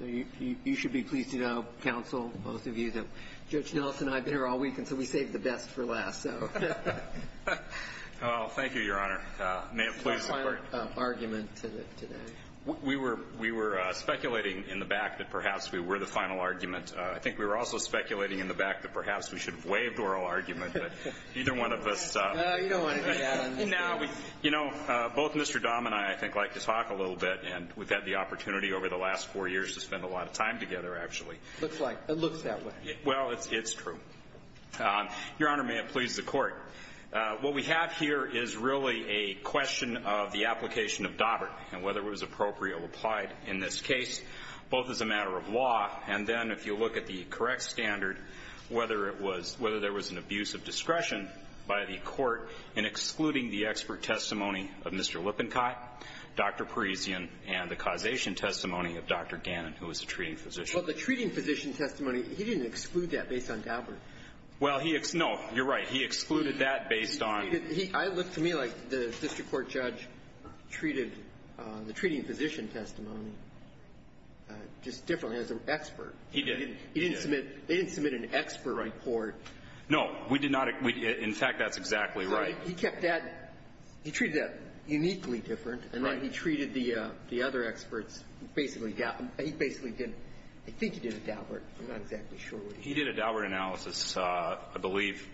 You should be pleased to know, counsel, both of you, that Judge Nelson and I have been here all week, and so we saved the best for last, so. Well, thank you, Your Honor. May it please the Court? What's the final argument today? We were speculating in the back that perhaps we were the final argument. I think we were also speculating in the back that perhaps we should have waived oral argument, but either one of us... No, you don't want to do that on this case. I mean, now, we've, you know, both Mr. Dahmer and I, I think, like to talk a little bit, and we've had the opportunity over the last four years to spend a lot of time together, actually. Looks like. It looks that way. Well, it's true. Your Honor, may it please the Court? What we have here is really a question of the application of Daubert and whether it was appropriate or applied in this case, both as a matter of law, and then if you look at the correct standard, whether it was – whether there was an abuse of discretion by the Court in excluding the expert testimony of Mr. Lippincott, Dr. Parisian, and the causation testimony of Dr. Gannon, who was the treating physician. Well, the treating physician testimony, he didn't exclude that based on Daubert. Well, he – no, you're right. He excluded that based on... I look to me like the district court judge treated the treating physician testimony just differently as an expert. He did. He didn't submit – they didn't submit an expert report. No. We did not. In fact, that's exactly right. He kept that – he treated that uniquely different. Right. And then he treated the other experts basically – he basically didn't. I think he did a Daubert. I'm not exactly sure what he did. He did a Daubert analysis, I believe.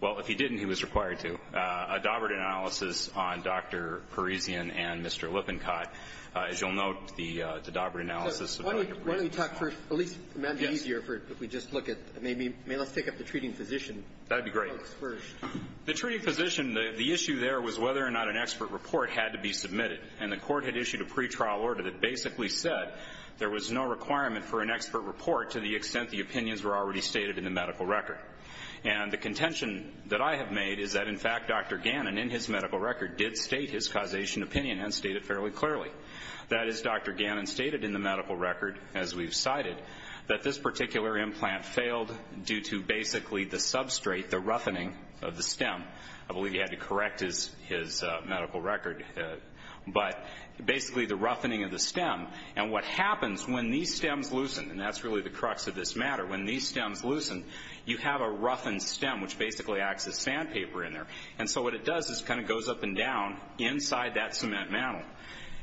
Well, if he didn't, he was required to. A Daubert analysis on Dr. Parisian and Mr. Lippincott. As you'll note, the Daubert analysis... Well, why don't we talk for – at least it might be easier if we just look at – let's take up the treating physician. That would be great. The treating physician, the issue there was whether or not an expert report had to be submitted. And the Court had issued a pretrial order that basically said there was no requirement for an expert report to the extent the opinions were already stated in the medical record. And the contention that I have made is that, in fact, Dr. Gannon in his medical record did state his causation opinion and stated it fairly clearly. That is, Dr. Gannon stated in the medical record, as we've cited, that this particular implant failed due to basically the substrate, the roughening of the stem. I believe he had to correct his medical record. But basically the roughening of the stem. And what happens when these stems loosen, and that's really the crux of this matter, when these stems loosen, you have a roughened stem, which basically acts as sandpaper in there. And so what it does is kind of goes up and down inside that cement mantle.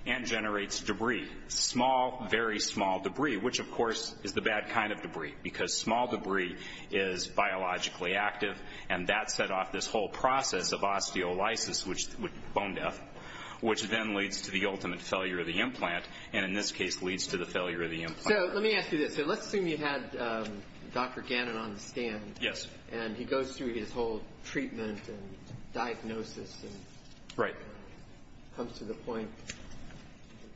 And generates debris. Small, very small debris. Which, of course, is the bad kind of debris. Because small debris is biologically active. And that set off this whole process of osteolysis, bone death, which then leads to the ultimate failure of the implant. And in this case leads to the failure of the implant. So let me ask you this. So let's assume you had Dr. Gannon on the stand. Yes. And he goes through his whole treatment and diagnosis. Right. Comes to the point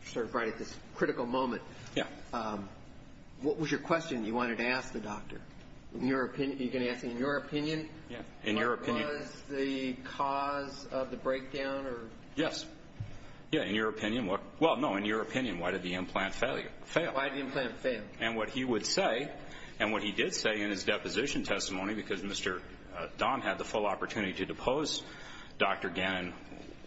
sort of right at this critical moment. Yeah. What was your question that you wanted to ask the doctor? In your opinion. Are you going to ask in your opinion? Yeah. In your opinion. What was the cause of the breakdown? Yes. Yeah. In your opinion. Well, no, in your opinion. Why did the implant fail? Why did the implant fail? And what he would say, and what he did say in his deposition testimony, because Mr. Don had the full opportunity to depose Dr. Gannon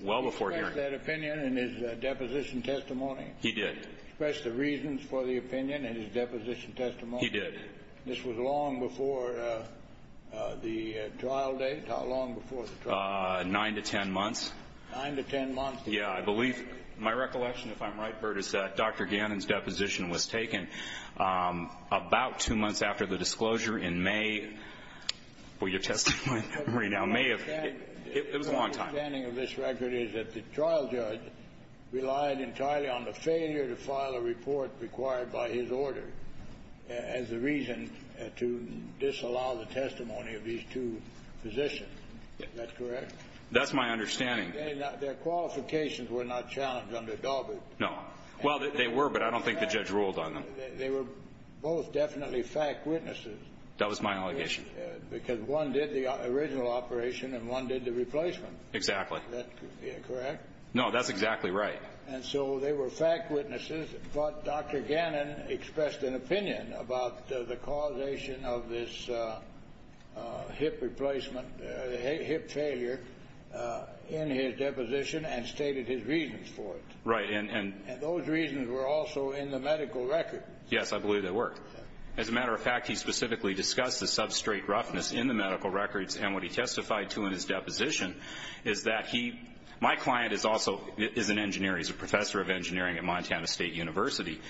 well before hearing. Did he express that opinion in his deposition testimony? He did. Express the reasons for the opinion in his deposition testimony? He did. This was long before the trial date? How long before the trial date? Nine to ten months. Nine to ten months. Yeah. I believe my recollection, if I'm right, Bert, is that Dr. Gannon's deposition was taken about two months after the disclosure in May. Well, your testimony right now may have... It was a long time. My understanding of this record is that the trial judge relied entirely on the failure to file a report required by his order as the reason to disallow the testimony of these two physicians. Is that correct? That's my understanding. Their qualifications were not challenged under Daubert. No. Well, they were, but I don't think the judge ruled on them. They were both definitely fact witnesses. That was my allegation. Because one did the original operation and one did the replacement. Exactly. Is that correct? No, that's exactly right. And so they were fact witnesses, but Dr. Gannon expressed an opinion about the causation of this hip replacement, hip failure, in his deposition and stated his reasons for it. Right. And those reasons were also in the medical record. Yes, I believe they were. As a matter of fact, he specifically discussed the substrate roughness in the medical records, and what he testified to in his deposition is that he... My client is also an engineer. He's a professor of engineering at Montana State University.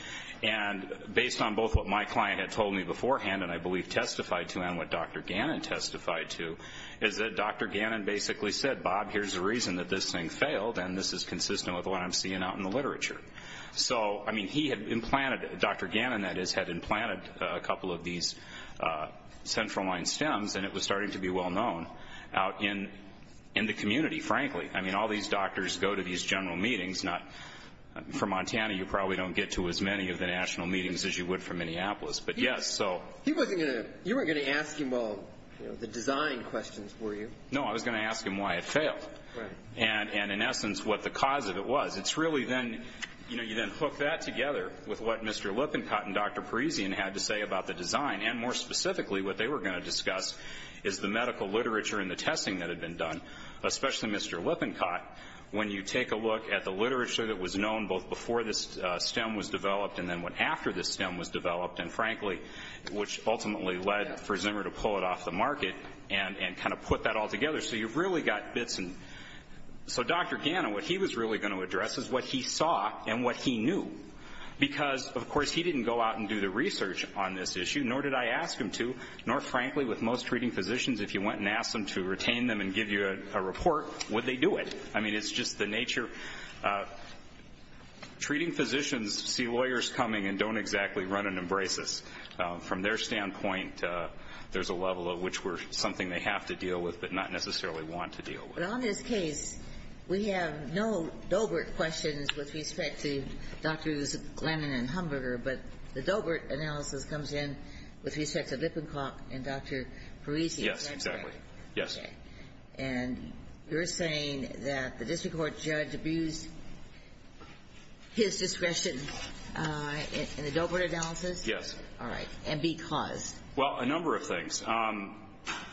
And based on both what my client had told me beforehand, and I believe testified to, and what Dr. Gannon testified to, is that Dr. Gannon basically said, Bob, here's the reason that this thing failed, and this is consistent with what I'm seeing out in the literature. So, I mean, he had implanted, Dr. Gannon, that is, had implanted a couple of these central line stems, and it was starting to be well known out in the community, frankly. I mean, all these doctors go to these general meetings. For Montana, you probably don't get to as many of the national meetings as you would from Minneapolis. But, yes, so... You weren't going to ask him all the design questions, were you? No, I was going to ask him why it failed and, in essence, what the cause of it was. It's really then, you know, you then hook that together with what Mr. Lippincott and Dr. Parisian had to say about the design, and more specifically what they were going to discuss is the medical literature and the testing that had been done, especially Mr. Lippincott. When you take a look at the literature that was known both before this stem was developed and then after this stem was developed, and, frankly, which ultimately led for Zimmer to pull it off the market and kind of put that all together, so you've really got bits. So Dr. Gannon, what he was really going to address is what he saw and what he knew, because, of course, he didn't go out and do the research on this issue, nor did I ask him to, nor, frankly, with most treating physicians, if you went and asked them to retain them and give you a report, would they do it? I mean, it's just the nature. Treating physicians see lawyers coming and don't exactly run and embrace us. From their standpoint, there's a level of which we're something they have to deal with but not necessarily want to deal with. But on this case, we have no Doebert questions with respect to Drs. Gannon and Humberter, but the Doebert analysis comes in with respect to Lippincott and Dr. Parisian. Yes, exactly. Yes. And you're saying that the district court judge abused his discretion in the Doebert analysis? Yes. All right. And because? Well, a number of things.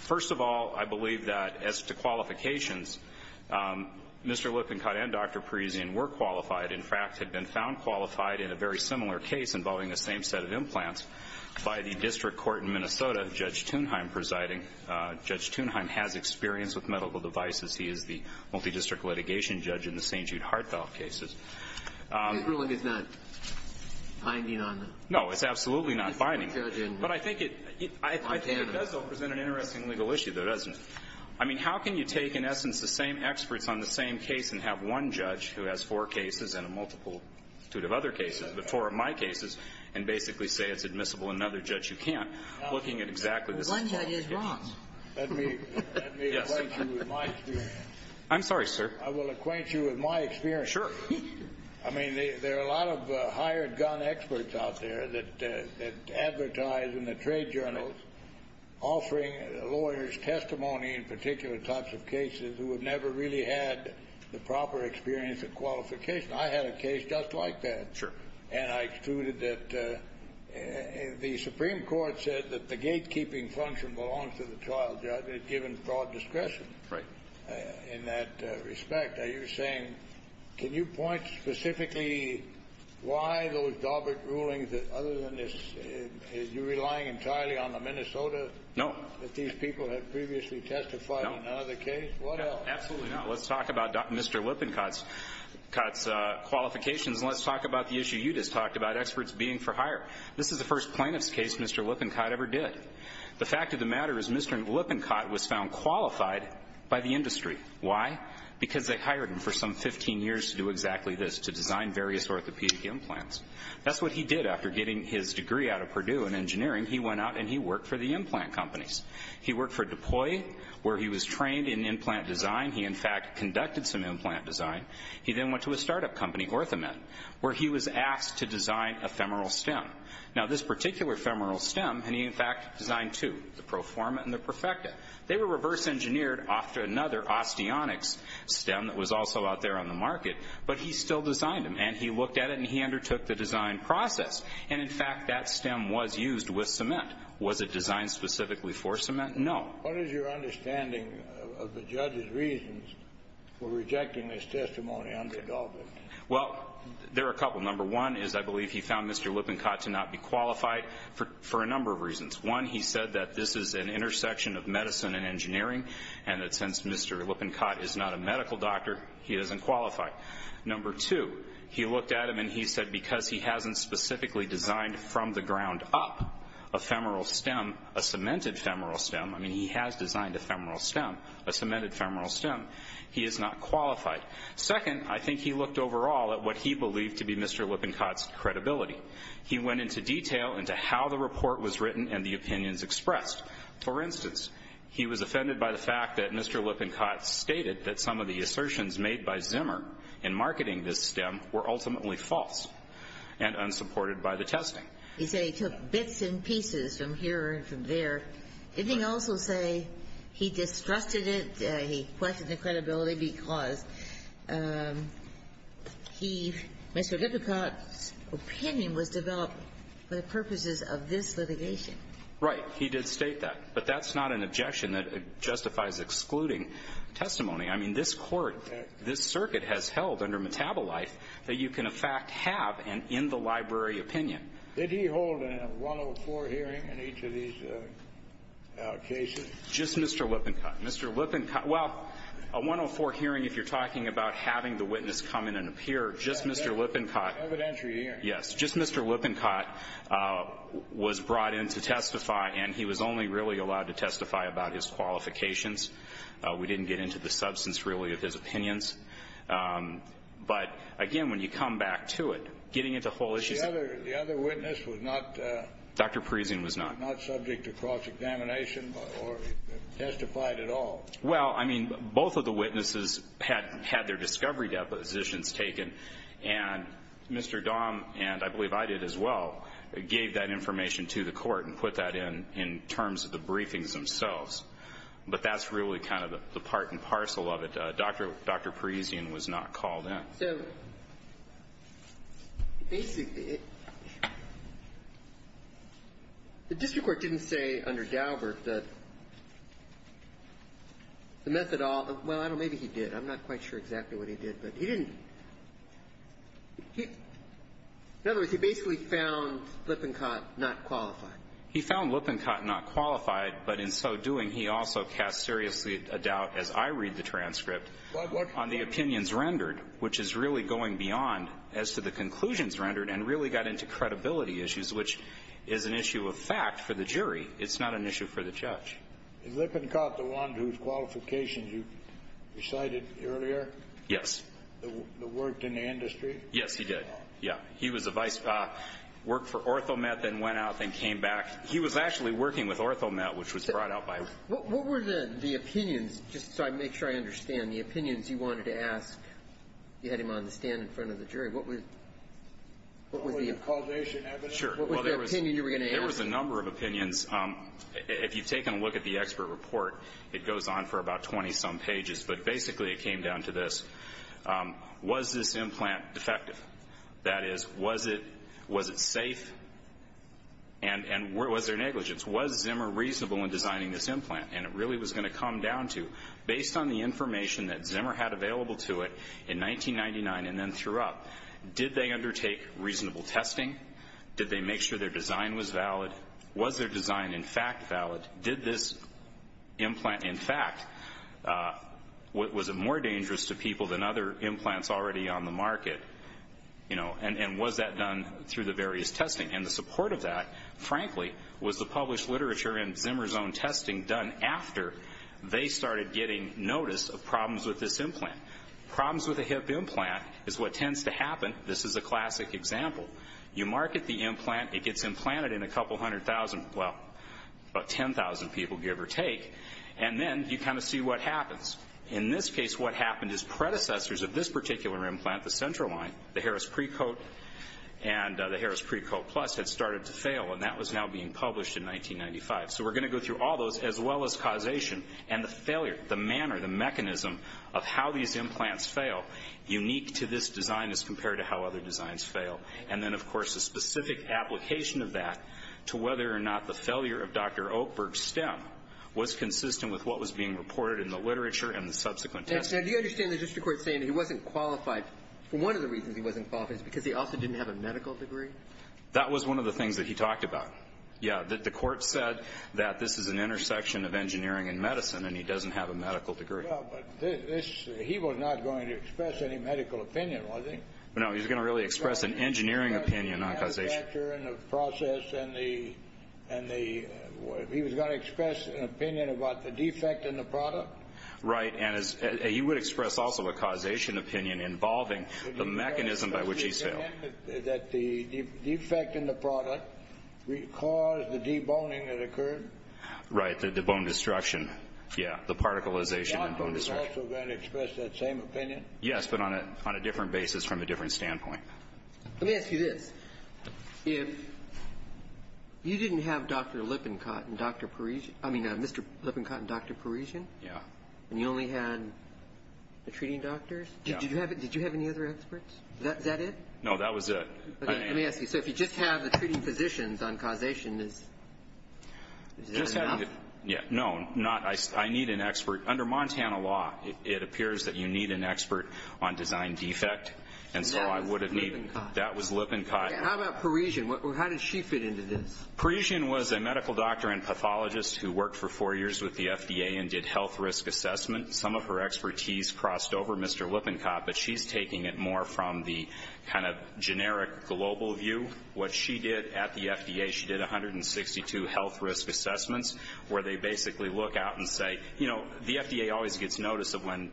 First of all, I believe that as to qualifications, Mr. Lippincott and Dr. Parisian were qualified, in fact, had been found qualified in a very similar case involving the same set of implants by the district court in Minnesota, Judge Thunheim presiding. Judge Thunheim has experience with medical devices. He is the multidistrict litigation judge in the St. Jude heartfelt cases. His ruling is not binding on the? No, it's absolutely not binding. But I think it does, though, present an interesting legal issue, though, doesn't it? I mean, how can you take, in essence, the same experts on the same case and have one judge who has four cases and a multitude of other cases, but four of my cases, and basically say it's admissible and another judge who can't, looking at exactly the same case? One judge is wrong. Let me acquaint you with my experience. I'm sorry, sir. I will acquaint you with my experience. Sure. I mean, there are a lot of hired gun experts out there that advertise in the trade journals offering lawyers testimony in particular types of cases who have never really had the proper experience of qualification. I had a case just like that. Sure. And I excluded that the Supreme Court said that the gatekeeping function belongs to the trial judge, given broad discretion in that respect. Are you saying, can you point specifically why those Daubert rulings, other than this, are you relying entirely on the Minnesota that these people had previously testified in another case? No. What else? Absolutely not. Let's talk about Mr. Lippincott's qualifications, and let's talk about the issue you just talked about, experts being for hire. This is the first plaintiff's case Mr. Lippincott ever did. The fact of the matter is Mr. Lippincott was found qualified by the industry. Why? Because they hired him for some 15 years to do exactly this, to design various orthopedic implants. That's what he did after getting his degree out of Purdue in engineering. He went out and he worked for the implant companies. He worked for Deploy, where he was trained in implant design. He, in fact, conducted some implant design. He then went to a startup company, Orthamet, where he was asked to design a femoral stem. Now, this particular femoral stem, and he, in fact, designed two, the Proforma and the Perfecta. They were reverse engineered off to another, Osteonics, stem that was also out there on the market. But he still designed them, and he looked at it and he undertook the design process. And, in fact, that stem was used with cement. Was it designed specifically for cement? No. What is your understanding of the judge's reasons for rejecting this testimony under Adulthood? Well, there are a couple. Number one is I believe he found Mr. Lippincott to not be qualified for a number of reasons. One, he said that this is an intersection of medicine and engineering, and that since Mr. Lippincott is not a medical doctor, he isn't qualified. Number two, he looked at him and he said because he hasn't specifically designed from the ground up a femoral stem, a cemented femoral stem, I mean, he has designed a femoral stem, a cemented femoral stem, he is not qualified. Second, I think he looked overall at what he believed to be Mr. Lippincott's credibility. He went into detail into how the report was written and the opinions expressed. For instance, he was offended by the fact that Mr. Lippincott stated that some of the assertions made by Zimmer in marketing this stem were ultimately false and unsupported by the testing. He said he took bits and pieces from here and from there. Didn't he also say he distrusted it? He questioned the credibility because he, Mr. Lippincott's opinion was developed for the purposes of this litigation. Right. He did state that. But that's not an objection that justifies excluding testimony. I mean, this Court, this circuit has held under metabolite that you can, in fact, have an in-the-library opinion. Did he hold a 104 hearing in each of these cases? Just Mr. Lippincott. Mr. Lippincott. Well, a 104 hearing, if you're talking about having the witness come in and appear, just Mr. Lippincott. Evidentiary hearing. Yes. Just Mr. Lippincott was brought in to testify, and he was only really allowed to testify about his qualifications. We didn't get into the substance, really, of his opinions. But, again, when you come back to it, getting into whole issues. The other witness was not. Dr. Parisian was not. He was not subject to cross-examination or testified at all. Well, I mean, both of the witnesses had their discovery depositions taken. And Mr. Dahm, and I believe I did as well, gave that information to the Court and put that in in terms of the briefings themselves. But that's really kind of the part and parcel of it. Dr. Parisian was not called in. So basically, the district court didn't say under Daubert that the methadol – well, I don't know. Maybe he did. I'm not quite sure exactly what he did. But he didn't. In other words, he basically found Lippincott not qualified. He found Lippincott not qualified, but in so doing, he also cast seriously a doubt, as I read the transcript, on the opinions rendered, which is really going beyond as to the conclusions rendered, and really got into credibility issues, which is an issue of fact for the jury. It's not an issue for the judge. Is Lippincott the one whose qualifications you cited earlier? Yes. That worked in the industry? Yes, he did. Yeah. He was a vice – worked for OrthoMet, then went out, then came back. He was actually working with OrthoMet, which was brought out by – What were the opinions – just so I make sure I understand – the opinions you wanted to ask? You had him on the stand in front of the jury. What was the – Only the causation evidence? Sure. What was the opinion you were going to ask? There was a number of opinions. If you've taken a look at the expert report, it goes on for about 20-some pages, but basically it came down to this. Was this implant defective? That is, was it safe? And was there negligence? Was Zimmer reasonable in designing this implant? And it really was going to come down to, based on the information that Zimmer had available to it in 1999 and then threw up, did they undertake reasonable testing? Did they make sure their design was valid? Was their design, in fact, valid? Did this implant, in fact – was it more dangerous to people than other implants already on the market? You know, and was that done through the various testing? And the support of that, frankly, was the published literature and Zimmer's own testing done after they started getting notice of problems with this implant. Problems with a hip implant is what tends to happen. This is a classic example. You market the implant. It gets implanted in a couple hundred thousand – well, about 10,000 people, give or take. And then you kind of see what happens. In this case, what happened is predecessors of this particular implant, the Central Line, the Harris Precote, and the Harris Precote Plus, had started to fail. And that was now being published in 1995. So we're going to go through all those as well as causation and the failure, the manner, the mechanism of how these implants fail, unique to this design as compared to how other designs fail. And then, of course, a specific application of that to whether or not the failure of Dr. Oakberg's stem was consistent with what was being reported in the literature and the subsequent testing. Now, do you understand the district court saying he wasn't qualified for one of the reasons he wasn't qualified is because he also didn't have a medical degree? That was one of the things that he talked about. Yeah, the court said that this is an intersection of engineering and medicine, and he doesn't have a medical degree. Well, but this – he was not going to express any medical opinion, was he? No, he was going to really express an engineering opinion on causation. The manufacturer and the process and the – he was going to express an opinion about the defect in the product? Right. And he would express also a causation opinion involving the mechanism by which these fail. That the defect in the product caused the deboning that occurred? Right, the bone destruction. Yeah, the particleization and bone destruction. Was Dr. Oakberg also going to express that same opinion? Yes, but on a different basis from a different standpoint. Let me ask you this. If you didn't have Dr. Lippincott and Dr. Parisian – I mean, Mr. Lippincott and Dr. Parisian? Yeah. And you only had the treating doctors? Did you have any other experts? Is that it? No, that was it. Let me ask you. So if you just have the treating physicians on causation, is that enough? Yeah. No, not – I need an expert. Under Montana law, it appears that you need an expert on design defect, and so I would have needed – That was Lippincott. That was Lippincott. How about Parisian? How did she fit into this? Parisian was a medical doctor and pathologist who worked for four years with the FDA and did health risk assessment. Some of her expertise crossed over Mr. Lippincott, but she's taking it more from the kind of generic global view. What she did at the FDA, she did 162 health risk assessments where they basically look out and say, you know, the FDA always gets notice of when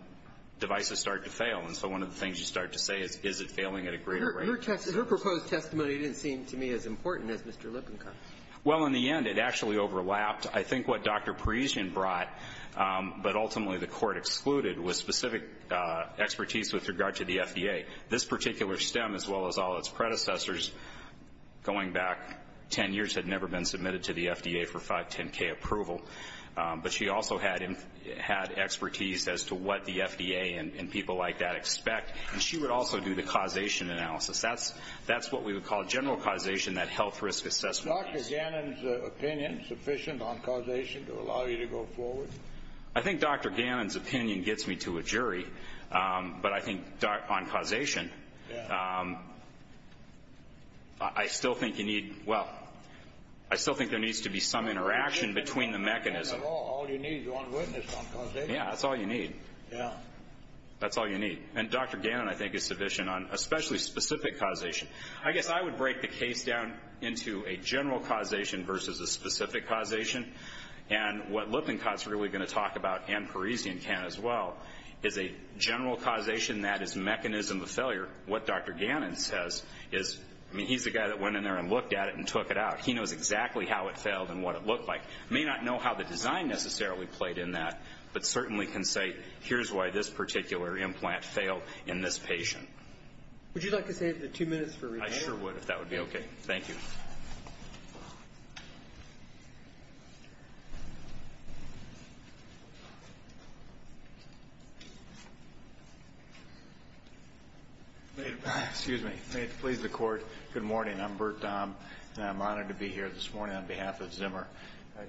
devices start to fail, and so one of the things you start to say is, is it failing at a greater rate? Your proposed testimony didn't seem to me as important as Mr. Lippincott's. Well, in the end, it actually overlapped. I think what Dr. Parisian brought, but ultimately the Court excluded, was specific expertise with regard to the FDA. This particular stem, as well as all its predecessors, going back 10 years, had never been submitted to the FDA for 510k approval, but she also had expertise as to what the FDA and people like that expect, and she would also do the causation analysis. That's what we would call general causation, that health risk assessment. Is Dr. Gannon's opinion sufficient on causation to allow you to go forward? I think Dr. Gannon's opinion gets me to a jury, but I think on causation, I still think you need, well, I still think there needs to be some interaction between the mechanisms. All you need is one witness on causation. Yeah, that's all you need. Yeah. That's all you need. And Dr. Gannon, I think, is sufficient on especially specific causation. I guess I would break the case down into a general causation versus a specific causation, and what Lippincott's really going to talk about, and Parisian can as well, is a general causation that is a mechanism of failure. What Dr. Gannon says is, I mean, he's the guy that went in there and looked at it and took it out. He knows exactly how it failed and what it looked like. He may not know how the design necessarily played in that, but certainly can say, here's why this particular implant failed in this patient. Would you like to save the two minutes for rebuttal? I sure would, if that would be okay. Thank you. May it please the Court, good morning. I'm Bert Daum, and I'm honored to be here this morning on behalf of Zimmer.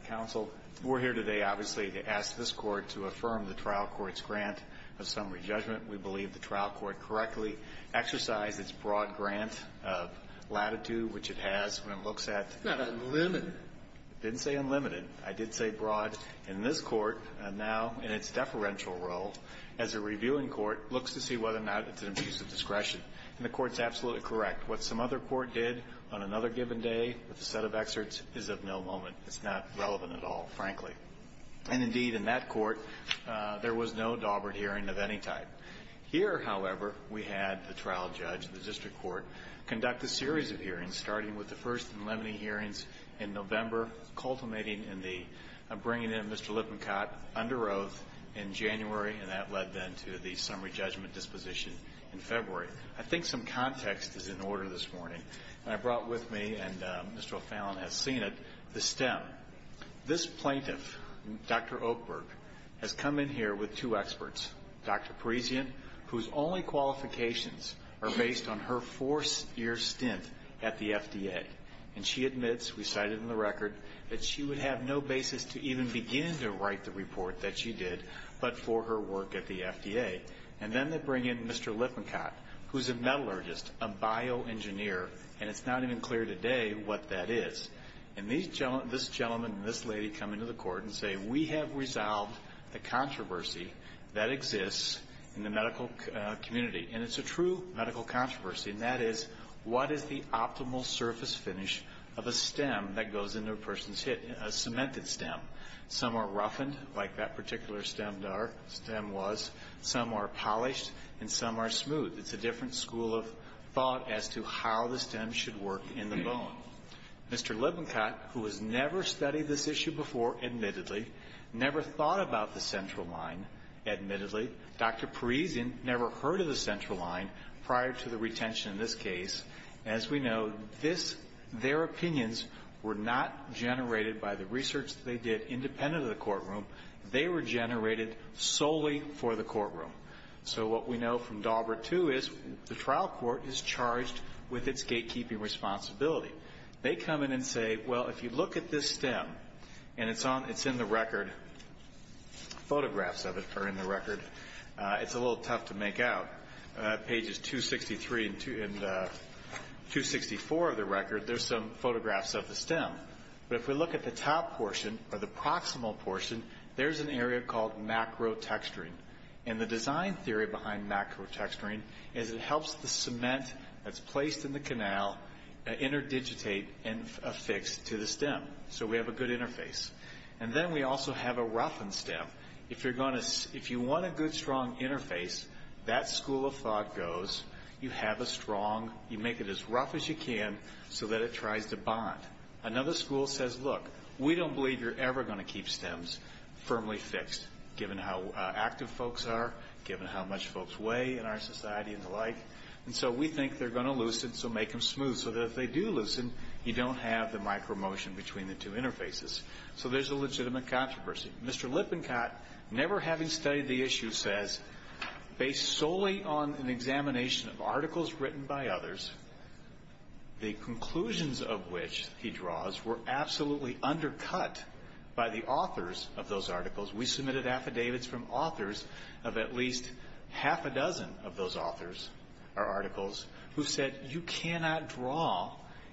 Counsel, we're here today, obviously, to ask this Court to affirm the trial court's grant of summary judgment. We believe the trial court correctly exercised its broad grant of latitude, which it has when it looks at the court. It's not unlimited. It didn't say unlimited. I did say broad. And this Court, now in its deferential role as a reviewing court, looks to see whether or not it's an abuse of discretion. And the Court's absolutely correct. What some other court did on another given day with a set of excerpts is of no moment. It's not relevant at all, frankly. And, indeed, in that court, there was no Dawbert hearing of any type. Here, however, we had the trial judge, the district court, conduct a series of hearings, starting with the first and limiting hearings in November, culminating in the bringing in of Mr. Lippincott under oath in January, and that led then to the summary judgment disposition in February. I think some context is in order this morning, and I brought with me, and Mr. O'Fallon has seen it, the stem. This plaintiff, Dr. Oakberg, has come in here with two experts, Dr. Parisian, whose only qualifications are based on her four-year stint at the FDA. And she admits, we cited in the record, that she would have no basis to even begin to write the report that she did but for her work at the FDA. And then they bring in Mr. Lippincott, who's a metallurgist, a bioengineer, and it's not even clear today what that is. And this gentleman and this lady come into the court and say, we have resolved the controversy that exists in the medical community. And it's a true medical controversy, and that is, what is the optimal surface finish of a stem that goes into a person's hit, a cemented stem? Some are roughened like that particular stem was. Some are polished, and some are smooth. It's a different school of thought as to how the stem should work in the bone. Mr. Lippincott, who has never studied this issue before, admittedly, never thought about the central line, admittedly. Dr. Parisian never heard of the central line prior to the retention in this case. As we know, this, their opinions were not generated by the research they did independent of the courtroom. They were generated solely for the courtroom. So what we know from Daubert, too, is the trial court is charged with its gatekeeping responsibility. They come in and say, well, if you look at this stem, and it's in the record, photographs of it are in the record. It's a little tough to make out. Pages 263 and 264 of the record, there's some photographs of the stem. But if we look at the top portion, or the proximal portion, there's an area called macro texturing. And the design theory behind macro texturing is it helps the cement that's placed in the canal interdigitate and affix to the stem. So we have a good interface. And then we also have a roughened stem. If you want a good, strong interface, that school of thought goes, you have a strong, you make it as rough as you can so that it tries to bond. Another school says, look, we don't believe you're ever going to keep stems firmly fixed, given how active folks are, given how much folks weigh in our society and the like. And so we think they're going to loosen, so make them smooth so that if they do loosen, you don't have the micro motion between the two interfaces. So there's a legitimate controversy. Mr. Lippincott, never having studied the issue, says, based solely on an examination of articles written by others, the conclusions of which he draws were absolutely undercut by the authors of those articles. We submitted affidavits from authors of at least half a dozen of those authors or articles who said you cannot draw,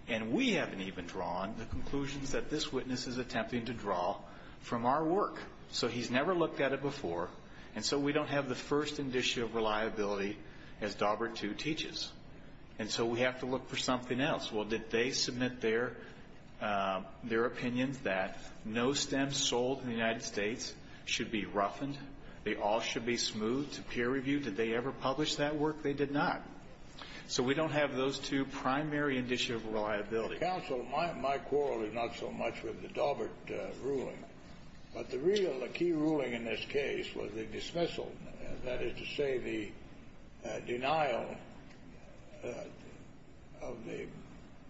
and we haven't even drawn, the conclusions that this witness is attempting to draw from our work. So he's never looked at it before. And so we don't have the first indicia of reliability as Daubert II teaches. And so we have to look for something else. Well, did they submit their opinions that no stems sold in the United States should be roughened, they all should be smoothed to peer review? Did they ever publish that work? They did not. So we don't have those two primary indicia of reliability. Counsel, my quarrel is not so much with the Daubert ruling, but the real key ruling in this case was the dismissal, that is to say the denial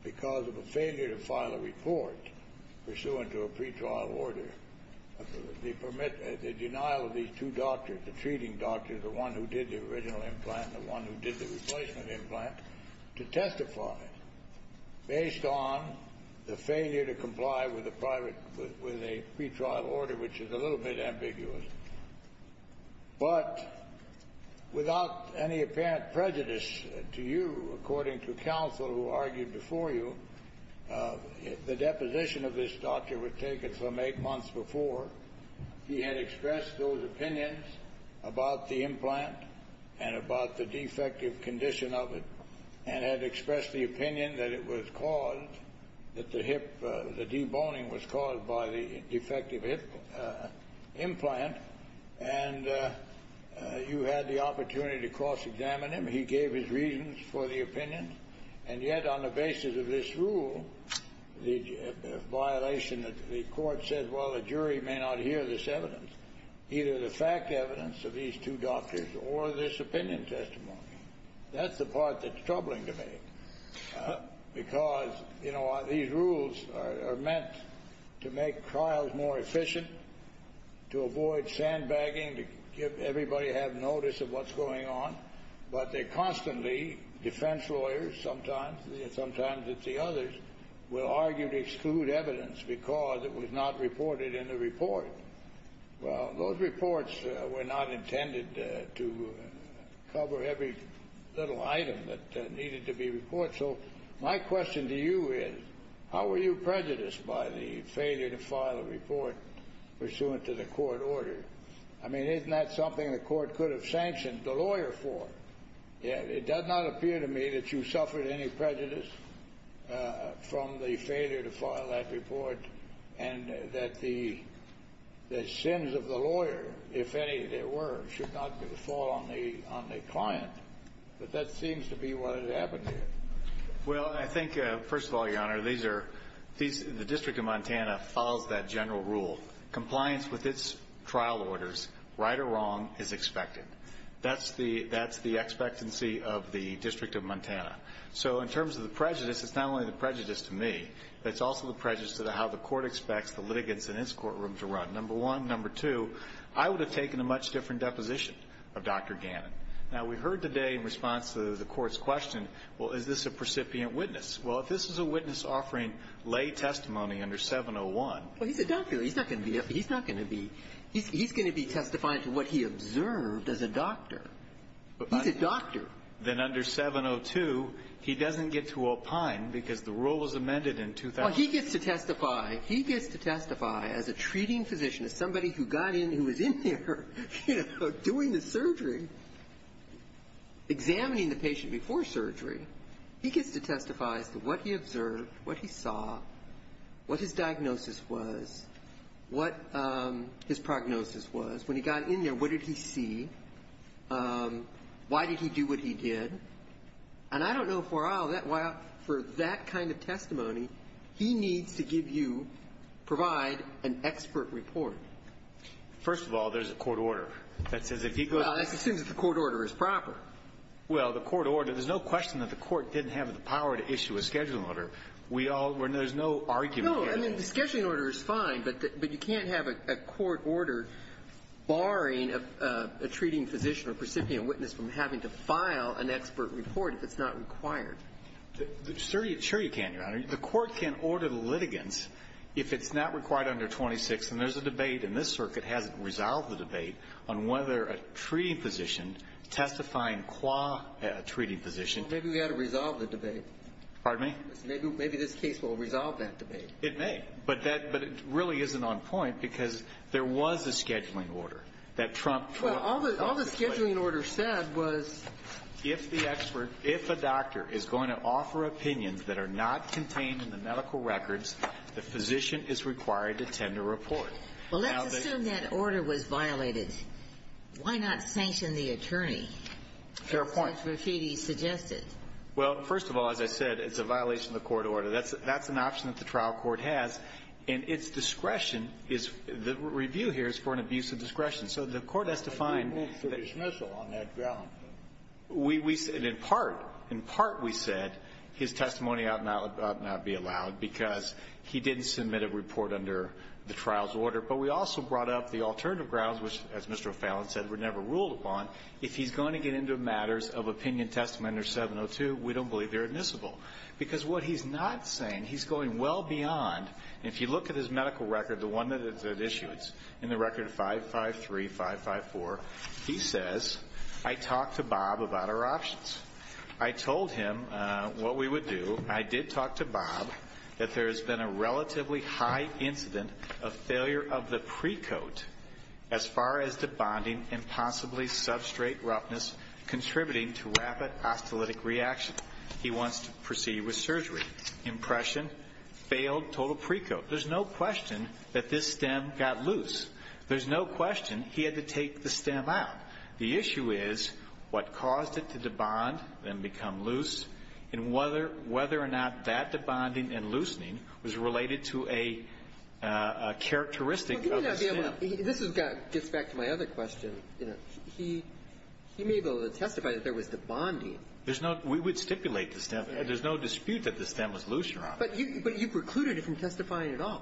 because of a failure to file a report pursuant to a pretrial order, the denial of these two doctors, the treating doctor, the one who did the original implant, the one who did the replacement implant, to testify based on the failure to comply with a pretrial order, which is a little bit ambiguous. But without any apparent prejudice to you, according to counsel who argued before you, the deposition of this doctor was taken from eight months before. He had expressed those opinions about the implant and about the defective condition of it and you had the opportunity to cross-examine him. He gave his reasons for the opinion. And yet on the basis of this rule, the violation, the court said, well, the jury may not hear this evidence, either the fact evidence of these two doctors or this opinion testimony. That's the part that's troubling to me because, you know, these rules are meant to make trials more efficient, to avoid sandbagging, to give everybody have notice of what's going on. But they constantly, defense lawyers sometimes, sometimes it's the others, will argue to exclude evidence because it was not reported in the report. Well, those reports were not intended to cover every little item that needed to be reported. So my question to you is, how were you prejudiced by the failure to file a report pursuant to the court order? I mean, isn't that something the court could have sanctioned the lawyer for? It does not appear to me that you suffered any prejudice from the failure to file that report and that the sins of the lawyer, if any there were, should not fall on the client. But that seems to be what had happened here. Well, I think, first of all, Your Honor, the District of Montana follows that general rule. Compliance with its trial orders, right or wrong, is expected. That's the expectancy of the District of Montana. So in terms of the prejudice, it's not only the prejudice to me. It's also the prejudice to how the court expects the litigants in its courtroom to run, number one. Number two, I would have taken a much different deposition of Dr. Gannon. Now, we heard today in response to the Court's question, well, is this a precipient witness? Well, if this is a witness offering lay testimony under 701 ---- Well, he's a doctor. He's not going to be ---- he's not going to be ---- he's going to be testifying to what he observed as a doctor. He's a doctor. Then under 702, he doesn't get to opine because the rule was amended in 2000. Well, he gets to testify. He gets to testify as a treating physician, as somebody who got in, who was in there doing the surgery, examining the patient before surgery. He gets to testify as to what he observed, what he saw, what his diagnosis was, what his prognosis was. When he got in there, what did he see? Why did he do what he did? And I don't know if we're all ---- for that kind of testimony, he needs to give you, provide an expert report. First of all, there's a court order that says if he goes ---- Well, it assumes that the court order is proper. Well, the court order ---- there's no question that the Court didn't have the power to issue a scheduling order. We all ---- there's no argument here. No. I mean, the scheduling order is fine, but you can't have a court order barring a treating physician or precipient witness from having to file an expert report if it's not required. Sure you can, Your Honor. The Court can order the litigants if it's not required under 26. And there's a debate, and this circuit hasn't resolved the debate, on whether a treating physician testifying qua treating physician ---- Well, maybe we ought to resolve the debate. Pardon me? Maybe this case will resolve that debate. It may. But it really isn't on point because there was a scheduling order that trumped ---- Well, all the scheduling order said was ---- If the expert, if a doctor is going to offer opinions that are not contained in the medical records, the physician is required to tend to report. Now that ---- Well, let's assume that order was violated. Why not sanction the attorney? Fair point. That's what Rashidi suggested. Well, first of all, as I said, it's a violation of the court order. That's an option that the trial court has. And its discretion is ---- the review here is for an abuse of discretion. So the Court has to find that ---- I didn't mean for dismissal on that ground. We said in part, in part we said his testimony ought not be allowed because he didn't submit a report under the trial's order. But we also brought up the alternative grounds, which, as Mr. O'Fallon said, were never ruled upon. If he's going to get into matters of opinion testament or 702, we don't believe they're admissible. Because what he's not saying, he's going well beyond. If you look at his medical record, the one that it issues, in the record 553, 554, he says, I talked to Bob about our options. I told him what we would do. I did talk to Bob that there has been a relatively high incident of failure of the precoat as far as the bonding and possibly substrate roughness contributing to rapid osteolytic reaction. He wants to proceed with surgery. Impression, failed total precoat. There's no question that this stem got loose. There's no question he had to take the stem out. The issue is what caused it to de-bond and become loose, and whether or not that de-bonding and loosening was related to a characteristic of the stem. This gets back to my other question. He may be able to testify that there was de-bonding. There's no we would stipulate the stem. There's no dispute that the stem was looser on it. But you precluded him from testifying at all.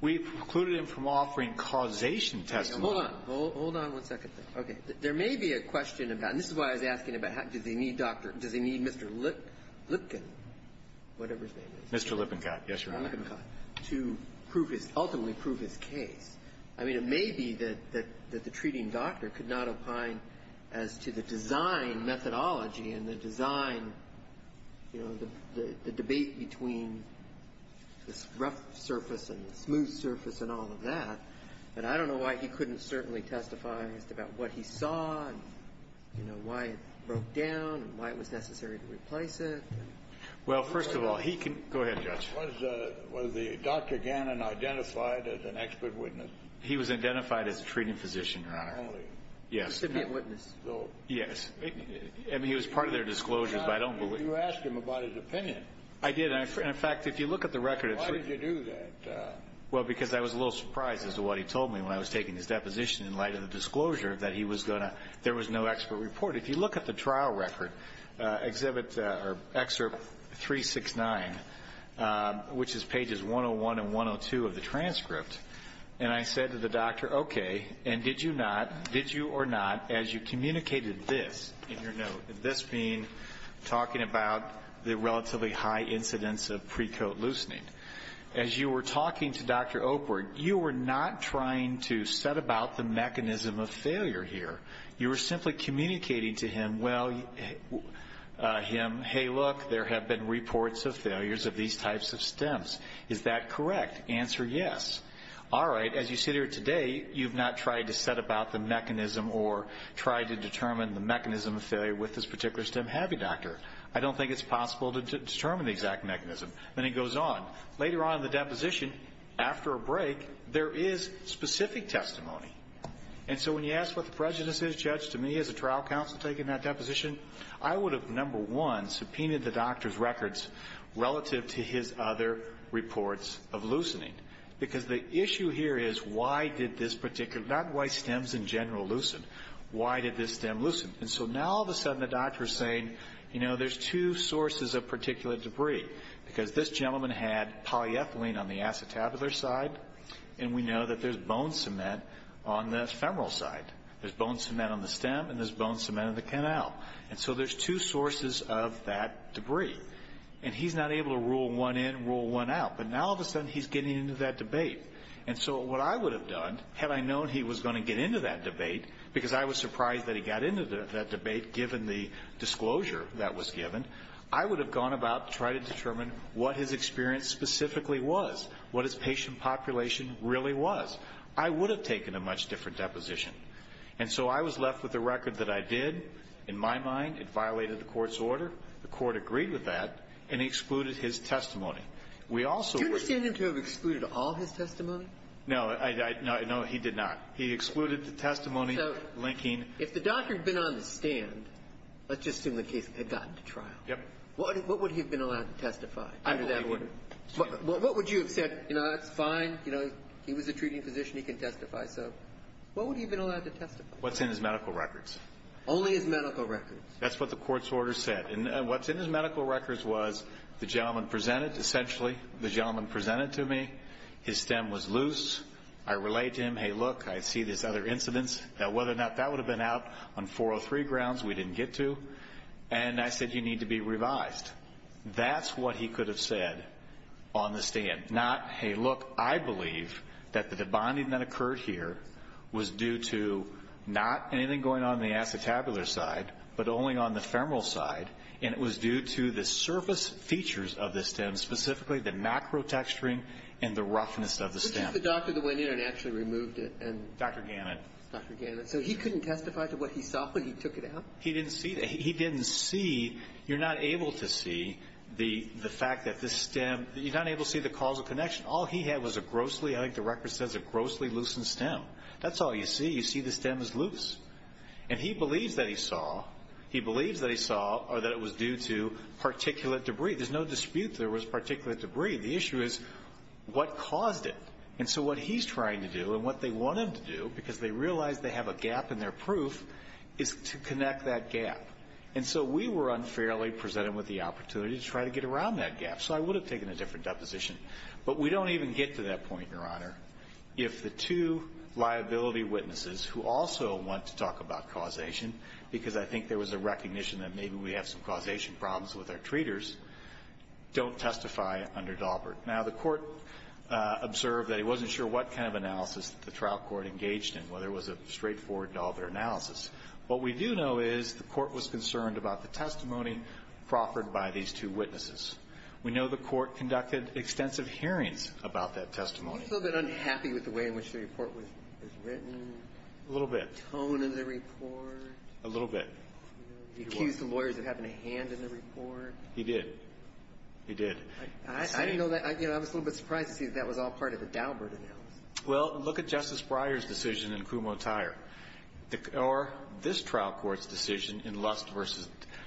We precluded him from offering causation testimony. Hold on. Hold on one second. Okay. There may be a question about, and this is why I was asking about does he need Dr. Does he need Mr. Lipkin, whatever his name is. Mr. Lippincott. Yes, Your Honor. Lippincott, to prove his, ultimately prove his case. I mean, it may be that the treating doctor could not opine as to the design methodology and the design, you know, the debate between this rough surface and the smooth surface and all of that. But I don't know why he couldn't certainly testify as to about what he saw and, you know, why it broke down and why it was necessary to replace it. Well, first of all, he can go ahead, Judge. Was the Dr. Gannon identified as an expert witness? He was identified as a treating physician, Your Honor. Yes. He should be a witness. Yes. I mean, he was part of their disclosures, but I don't believe. You asked him about his opinion. I did. And, in fact, if you look at the record. Why did you do that? Well, because I was a little surprised as to what he told me when I was taking his deposition in light of the disclosure that he was going to, there was no expert report. If you look at the trial record, Excerpt 369, which is pages 101 and 102 of the transcript, and I said to the doctor, okay, and did you not, did you or not, as you communicated this, in your note, this being talking about the relatively high incidence of precoat loosening, as you were talking to Dr. Opert, you were not trying to set about the mechanism of failure here. You were simply communicating to him, well, him, hey, look, there have been reports of failures of these types of stems. Is that correct? Answer, yes. All right. As you sit here today, you've not tried to set about the mechanism or tried to determine the mechanism of failure with this particular stem. Have you, Doctor? I don't think it's possible to determine the exact mechanism. Then he goes on. Later on in the deposition, after a break, there is specific testimony. And so when you ask what the prejudice is, Judge, to me as a trial counsel taking that deposition, I would have, number one, subpoenaed the doctor's records relative to his other reports of loosening. Because the issue here is why did this particular, not why stems in general loosen. Why did this stem loosen? And so now all of a sudden the doctor is saying, you know, there's two sources of particulate debris. Because this gentleman had polyethylene on the acetabular side, and we know that there's bone cement on the femoral side. There's bone cement on the stem, and there's bone cement on the canal. And so there's two sources of that debris. And he's not able to rule one in, rule one out. But now all of a sudden he's getting into that debate. And so what I would have done, had I known he was going to get into that debate, because I was surprised that he got into that debate given the disclosure that was given, I would have gone about trying to determine what his experience specifically was, what his patient population really was. I would have taken a much different deposition. And so I was left with the record that I did. In my mind, it violated the court's order. The court agreed with that, and he excluded his testimony. We also would have ---- Do you understand him to have excluded all his testimony? No. No, he did not. He excluded the testimony linking ---- So if the doctor had been on the stand, let's just assume the case had gotten to trial. Yes. What would he have been allowed to testify under that order? I believe he wouldn't. What would you have said? You know, that's fine. You know, he was a treating physician. He can testify. So what would he have been allowed to testify? What's in his medical records. Only his medical records. That's what the court's order said. And what's in his medical records was the gentleman presented, essentially, the gentleman presented to me. His stem was loose. I relayed to him, hey, look, I see these other incidents. Now, whether or not that would have been out on 403 grounds, we didn't get to. And I said, you need to be revised. That's what he could have said on the stand, not, hey, look, I believe that the debonding that occurred here was due to not anything going on in the acetabular side but only on the femoral side, and it was due to the surface features of the stem, specifically the macro texturing and the roughness of the stem. Which is the doctor that went in and actually removed it? Dr. Gannett. Dr. Gannett. So he couldn't testify to what he saw when he took it out? He didn't see that. He didn't see. You're not able to see the fact that this stem, you're not able to see the causal connection. All he had was a grossly, I think the record says a grossly loosened stem. That's all you see. You see the stem is loose. And he believes that he saw or that it was due to particulate debris. There's no dispute there was particulate debris. The issue is what caused it. And so what he's trying to do and what they want him to do, because they realize they have a gap in their proof, is to connect that gap. And so we were unfairly presented with the opportunity to try to get around that gap. So I would have taken a different deposition. But we don't even get to that point, Your Honor, if the two liability witnesses who also want to talk about causation, because I think there was a recognition that maybe we have some causation problems with our treaters, don't testify under Daubert. Now, the Court observed that it wasn't sure what kind of analysis the trial court engaged in, whether it was a straightforward Daubert analysis. What we do know is the Court was concerned about the testimony proffered by these two witnesses. We know the Court conducted extensive hearings about that testimony. He was a little bit unhappy with the way in which the report was written. A little bit. The tone of the report. A little bit. He accused the lawyers of having a hand in the report. He did. He did. I didn't know that. I was a little bit surprised to see that that was all part of the Daubert analysis. Well, look at Justice Breyer's decision in Kumho-Tyre or this trial court's decision in Lust v.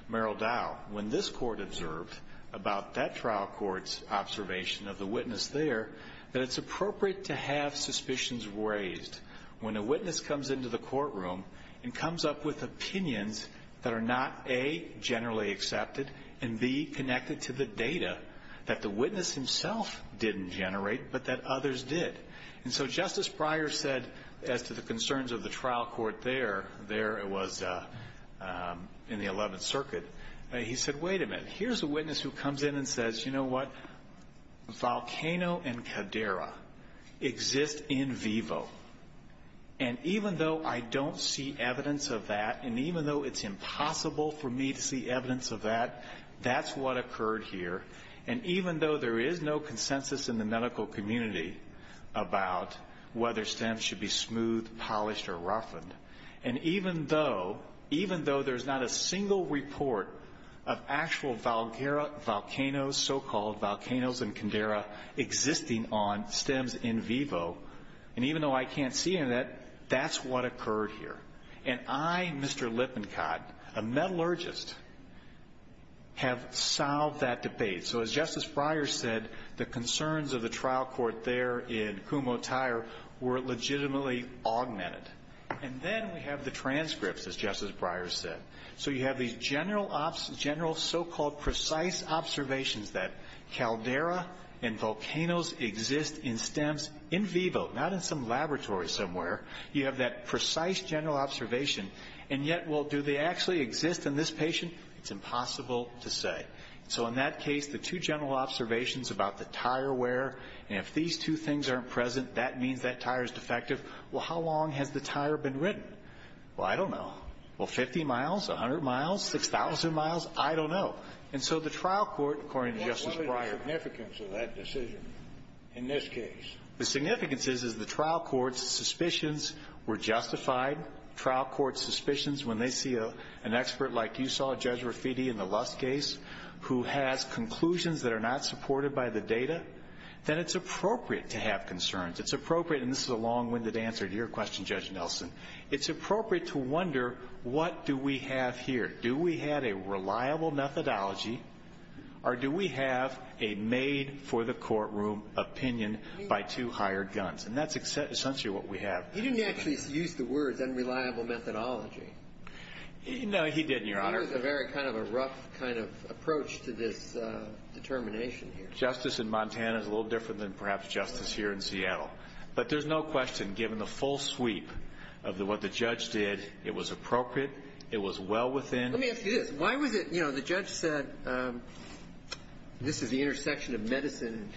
Merrill Daubert. Now, when this Court observed about that trial court's observation of the witness there, that it's appropriate to have suspicions raised when a witness comes into the courtroom and comes up with opinions that are not, A, generally accepted, and, B, connected to the data that the witness himself didn't generate but that others did. And so Justice Breyer said, as to the concerns of the trial court there, it was in the Eleventh Circuit, he said, Wait a minute. Here's a witness who comes in and says, You know what? Volcano and cadera exist in vivo. And even though I don't see evidence of that and even though it's impossible for me to see evidence of that, that's what occurred here. And even though there is no consensus in the medical community about whether stems should be smooth, polished, or roughened, and even though there's not a single report of actual volcanoes, so-called volcanoes and cadera, existing on stems in vivo, and even though I can't see any of that, that's what occurred here. And I, Mr. Lippincott, a metallurgist, have solved that debate. So as Justice Breyer said, the concerns of the trial court there in Kumotair were legitimately augmented. And then we have the transcripts, as Justice Breyer said. So you have these general, so-called precise observations that caldera and volcanoes exist in stems in vivo, not in some laboratory somewhere. You have that precise general observation. And yet, well, do they actually exist in this patient? It's impossible to say. So in that case, the two general observations about the tire wear, and if these two things aren't present, that means that tire is defective. Well, how long has the tire been ridden? Well, I don't know. Well, 50 miles, 100 miles, 6,000 miles? I don't know. And so the trial court, according to Justice Breyer. What is the significance of that decision in this case? The significance is, is the trial court's suspicions were justified. trial court's suspicions, when they see an expert like you saw, Judge Rafiti, in the Lust case, who has conclusions that are not supported by the data, then it's appropriate to have concerns. It's appropriate, and this is a long-winded answer to your question, Judge Nelson. It's appropriate to wonder, what do we have here? Do we have a reliable methodology, or do we have a made-for-the-courtroom opinion by two hired guns? And that's essentially what we have. He didn't actually use the words unreliable methodology. No, he didn't, Your Honor. He was a very kind of a rough kind of approach to this determination here. Justice in Montana is a little different than perhaps justice here in Seattle. But there's no question, given the full sweep of what the judge did, it was appropriate, it was well within. Let me ask you this. Why was it, you know, the judge said this is the intersection of medicine and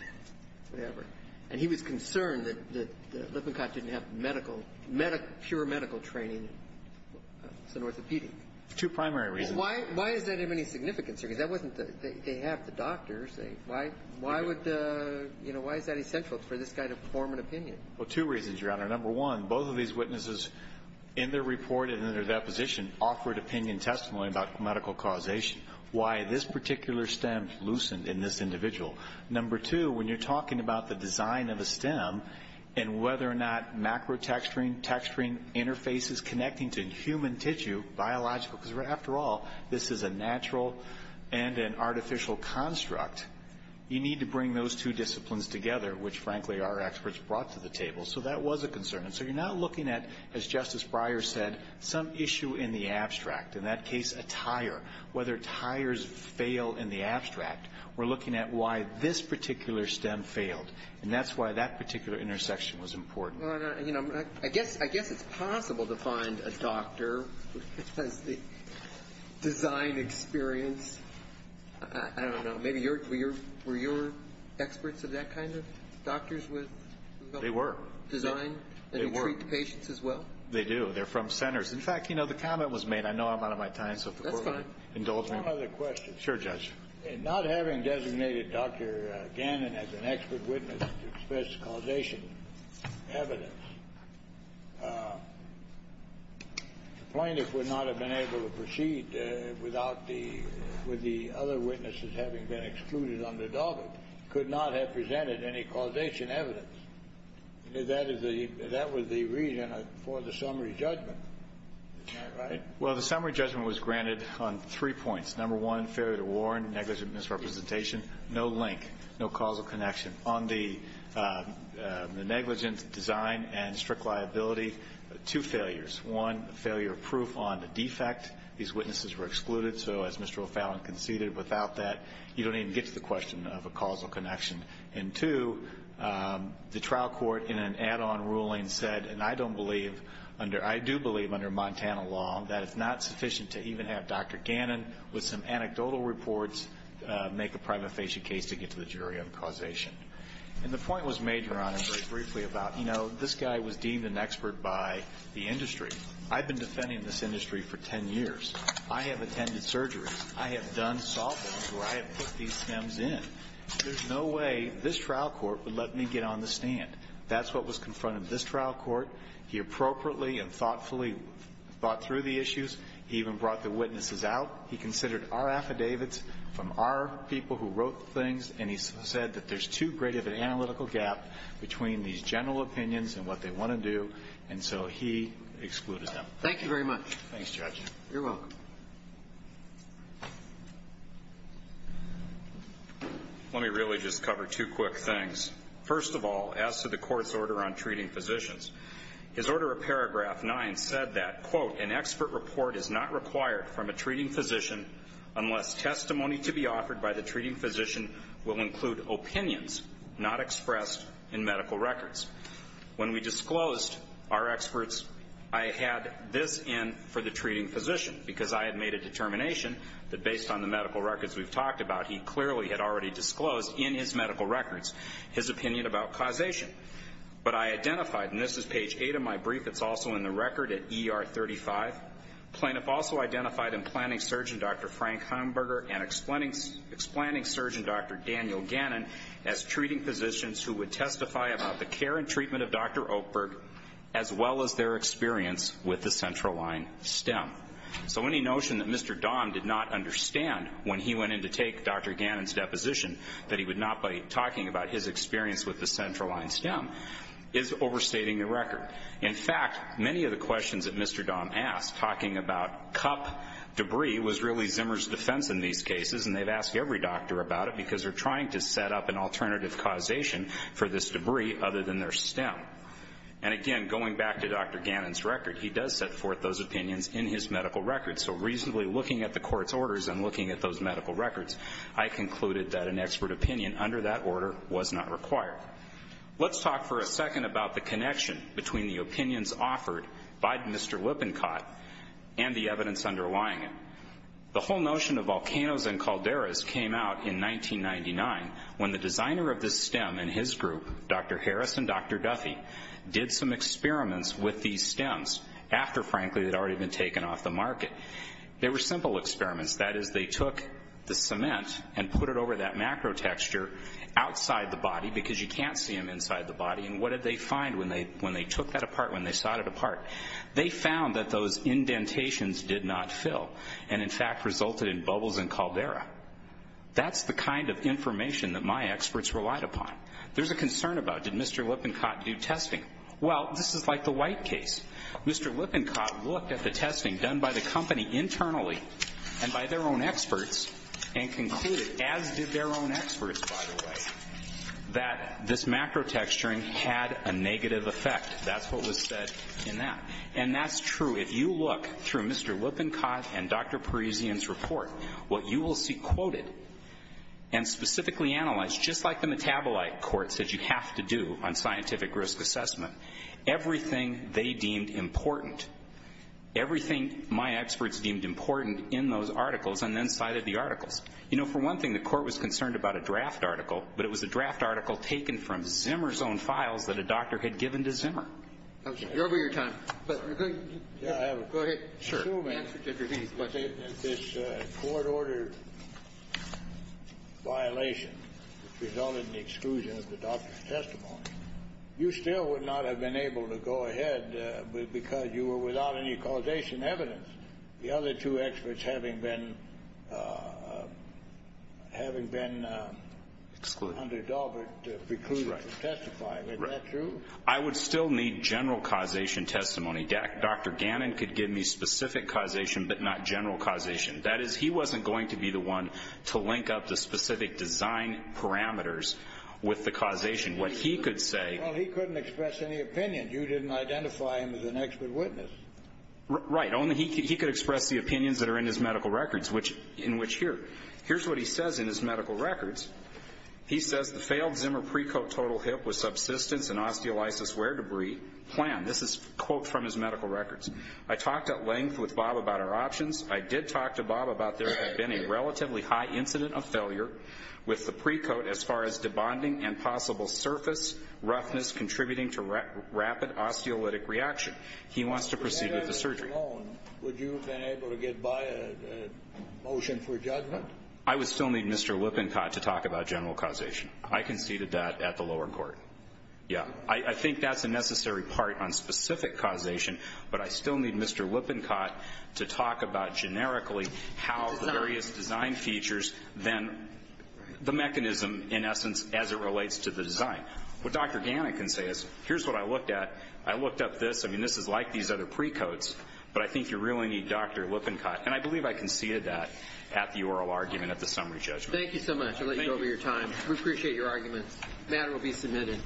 whatever, and he was concerned that the Lippincott didn't have medical, pure medical training as an orthopedic? There's two primary reasons. Well, why is that of any significance here? Because that wasn't the – they have the doctors. Why would the – you know, why is that essential for this guy to form an opinion? Well, two reasons, Your Honor. Number one, both of these witnesses in their report and in their deposition offered opinion testimony about medical causation, why this particular stem loosened in this individual. Number two, when you're talking about the design of a stem and whether or not macro texturing, texturing interfaces connecting to human tissue, biological, because after all, this is a natural and an artificial construct, you need to bring those two disciplines together, which frankly our experts brought to the table. So that was a concern. And so you're now looking at, as Justice Breyer said, some issue in the abstract, in that case a tire, whether tires fail in the abstract. We're looking at why this particular stem failed. And that's why that particular intersection was important. Your Honor, you know, I guess it's possible to find a doctor who has the design experience. I don't know. Maybe you're – were your experts of that kind of doctors with – They were. Design? They were. And you treat the patients as well? They do. They're from centers. In fact, you know, the comment was made – I know I'm out of my time, so if the Court would indulge me. That's fine. In not having designated Dr. Gannon as an expert witness to express causation evidence, the plaintiff would not have been able to proceed without the – with the other witnesses having been excluded under Daubert, could not have presented any causation evidence. That is the – that was the reason for the summary judgment, right? Well, the summary judgment was granted on three points. Number one, failure to warn, negligent misrepresentation, no link, no causal connection. On the negligent design and strict liability, two failures. One, failure of proof on the defect. These witnesses were excluded, so as Mr. O'Fallon conceded, without that, you don't even get to the question of a causal connection. And two, the trial court in an add-on ruling said, and I don't believe under – I do believe under Montana law that it's not sufficient to even have Dr. Gannon present some anecdotal reports, make a prima facie case to get to the jury on causation. And the point was made, Your Honor, very briefly about, you know, this guy was deemed an expert by the industry. I've been defending this industry for ten years. I have attended surgeries. I have done softens where I have put these stems in. There's no way this trial court would let me get on the stand. That's what was confronted in this trial court. He appropriately and thoughtfully thought through the issues. He even brought the witnesses out. He considered our affidavits from our people who wrote things, and he said that there's too great of an analytical gap between these general opinions and what they want to do, and so he excluded them. Thank you. Thank you very much. Thanks, Judge. You're welcome. Let me really just cover two quick things. First of all, as to the Court's order on treating physicians, His Order of Paragraph 9 said that, quote, an expert report is not required from a treating physician unless testimony to be offered by the treating physician will include opinions not expressed in medical records. When we disclosed our experts, I had this in for the treating physician because I had made a determination that based on the medical records we've talked about, he clearly had already disclosed in his medical records his opinion about causation. But I identified, and this is page 8 of my brief that's also in the record at ER 35, plaintiff also identified implanting surgeon Dr. Frank Heimberger and explaining surgeon Dr. Daniel Gannon as treating physicians who would testify about the care and treatment of Dr. Oakberg as well as their experience with the central line stem. So any notion that Mr. Dahm did not understand when he went in to take Dr. Gannon's experience with the central line stem is overstating the record. In fact, many of the questions that Mr. Dahm asked talking about cup debris was really Zimmer's defense in these cases, and they've asked every doctor about it because they're trying to set up an alternative causation for this debris other than their stem. And again, going back to Dr. Gannon's record, he does set forth those opinions in his medical records. So reasonably looking at the Court's orders and looking at those medical records, I concluded that an expert opinion under that order was not required. Let's talk for a second about the connection between the opinions offered by Mr. Lippincott and the evidence underlying it. The whole notion of volcanoes and calderas came out in 1999 when the designer of this stem and his group, Dr. Harris and Dr. Duffy, did some experiments with these stems after, frankly, they'd already been taken off the market. They were simple experiments. That is, they took the cement and put it over that macro texture outside the body because you can't see them inside the body. And what did they find when they took that apart, when they sawed it apart? They found that those indentations did not fill and, in fact, resulted in bubbles and caldera. That's the kind of information that my experts relied upon. There's a concern about, did Mr. Lippincott do testing? Well, this is like the White case. Mr. Lippincott looked at the testing done by the company internally and by their own experts and concluded, as did their own experts, by the way, that this macro texturing had a negative effect. That's what was said in that. And that's true. If you look through Mr. Lippincott and Dr. Parisian's report, what you will see quoted and specifically analyzed, just like the metabolite court said you have to do on scientific risk assessment, everything they deemed important, everything my experts deemed important in those articles and then cited the articles. You know, for one thing, the Court was concerned about a draft article, but it was a draft article taken from Zimmer's own files that a doctor had given to Zimmer. You're over your time. Go ahead. I would still need general causation testimony. Dr. Gannon could give me specific causation but not general causation. That is, he wasn't going to be the one to link up the specific design parameters with the causation. What he could say — Well, he couldn't express any opinion. You didn't identify him as an expert witness. Right. Only he could express the opinions that are in his medical records, in which here. Here's what he says in his medical records. He says, I talked at length with Bob about our options. I did talk to Bob about there had been a relatively high incident of failure with the pre-coat as far as debonding and possible surface roughness contributing to rapid osteolytic reaction. He wants to proceed with the surgery. Would you have been able to get by a motion for judgment? I would still need Mr. Lippincott to talk about general causation. I conceded that at the lower court. Yeah. I think that's a necessary part on specific causation. But I still need Mr. Lippincott to talk about generically how the various design features then the mechanism, in essence, as it relates to the design. What Dr. Gannon can say is, here's what I looked at. I looked up this. I mean, this is like these other pre-coats. But I think you really need Dr. Lippincott. And I believe I conceded that at the oral argument at the summary judgment. Thank you so much. I'll let you go over your time. We appreciate your argument. The matter will be submitted.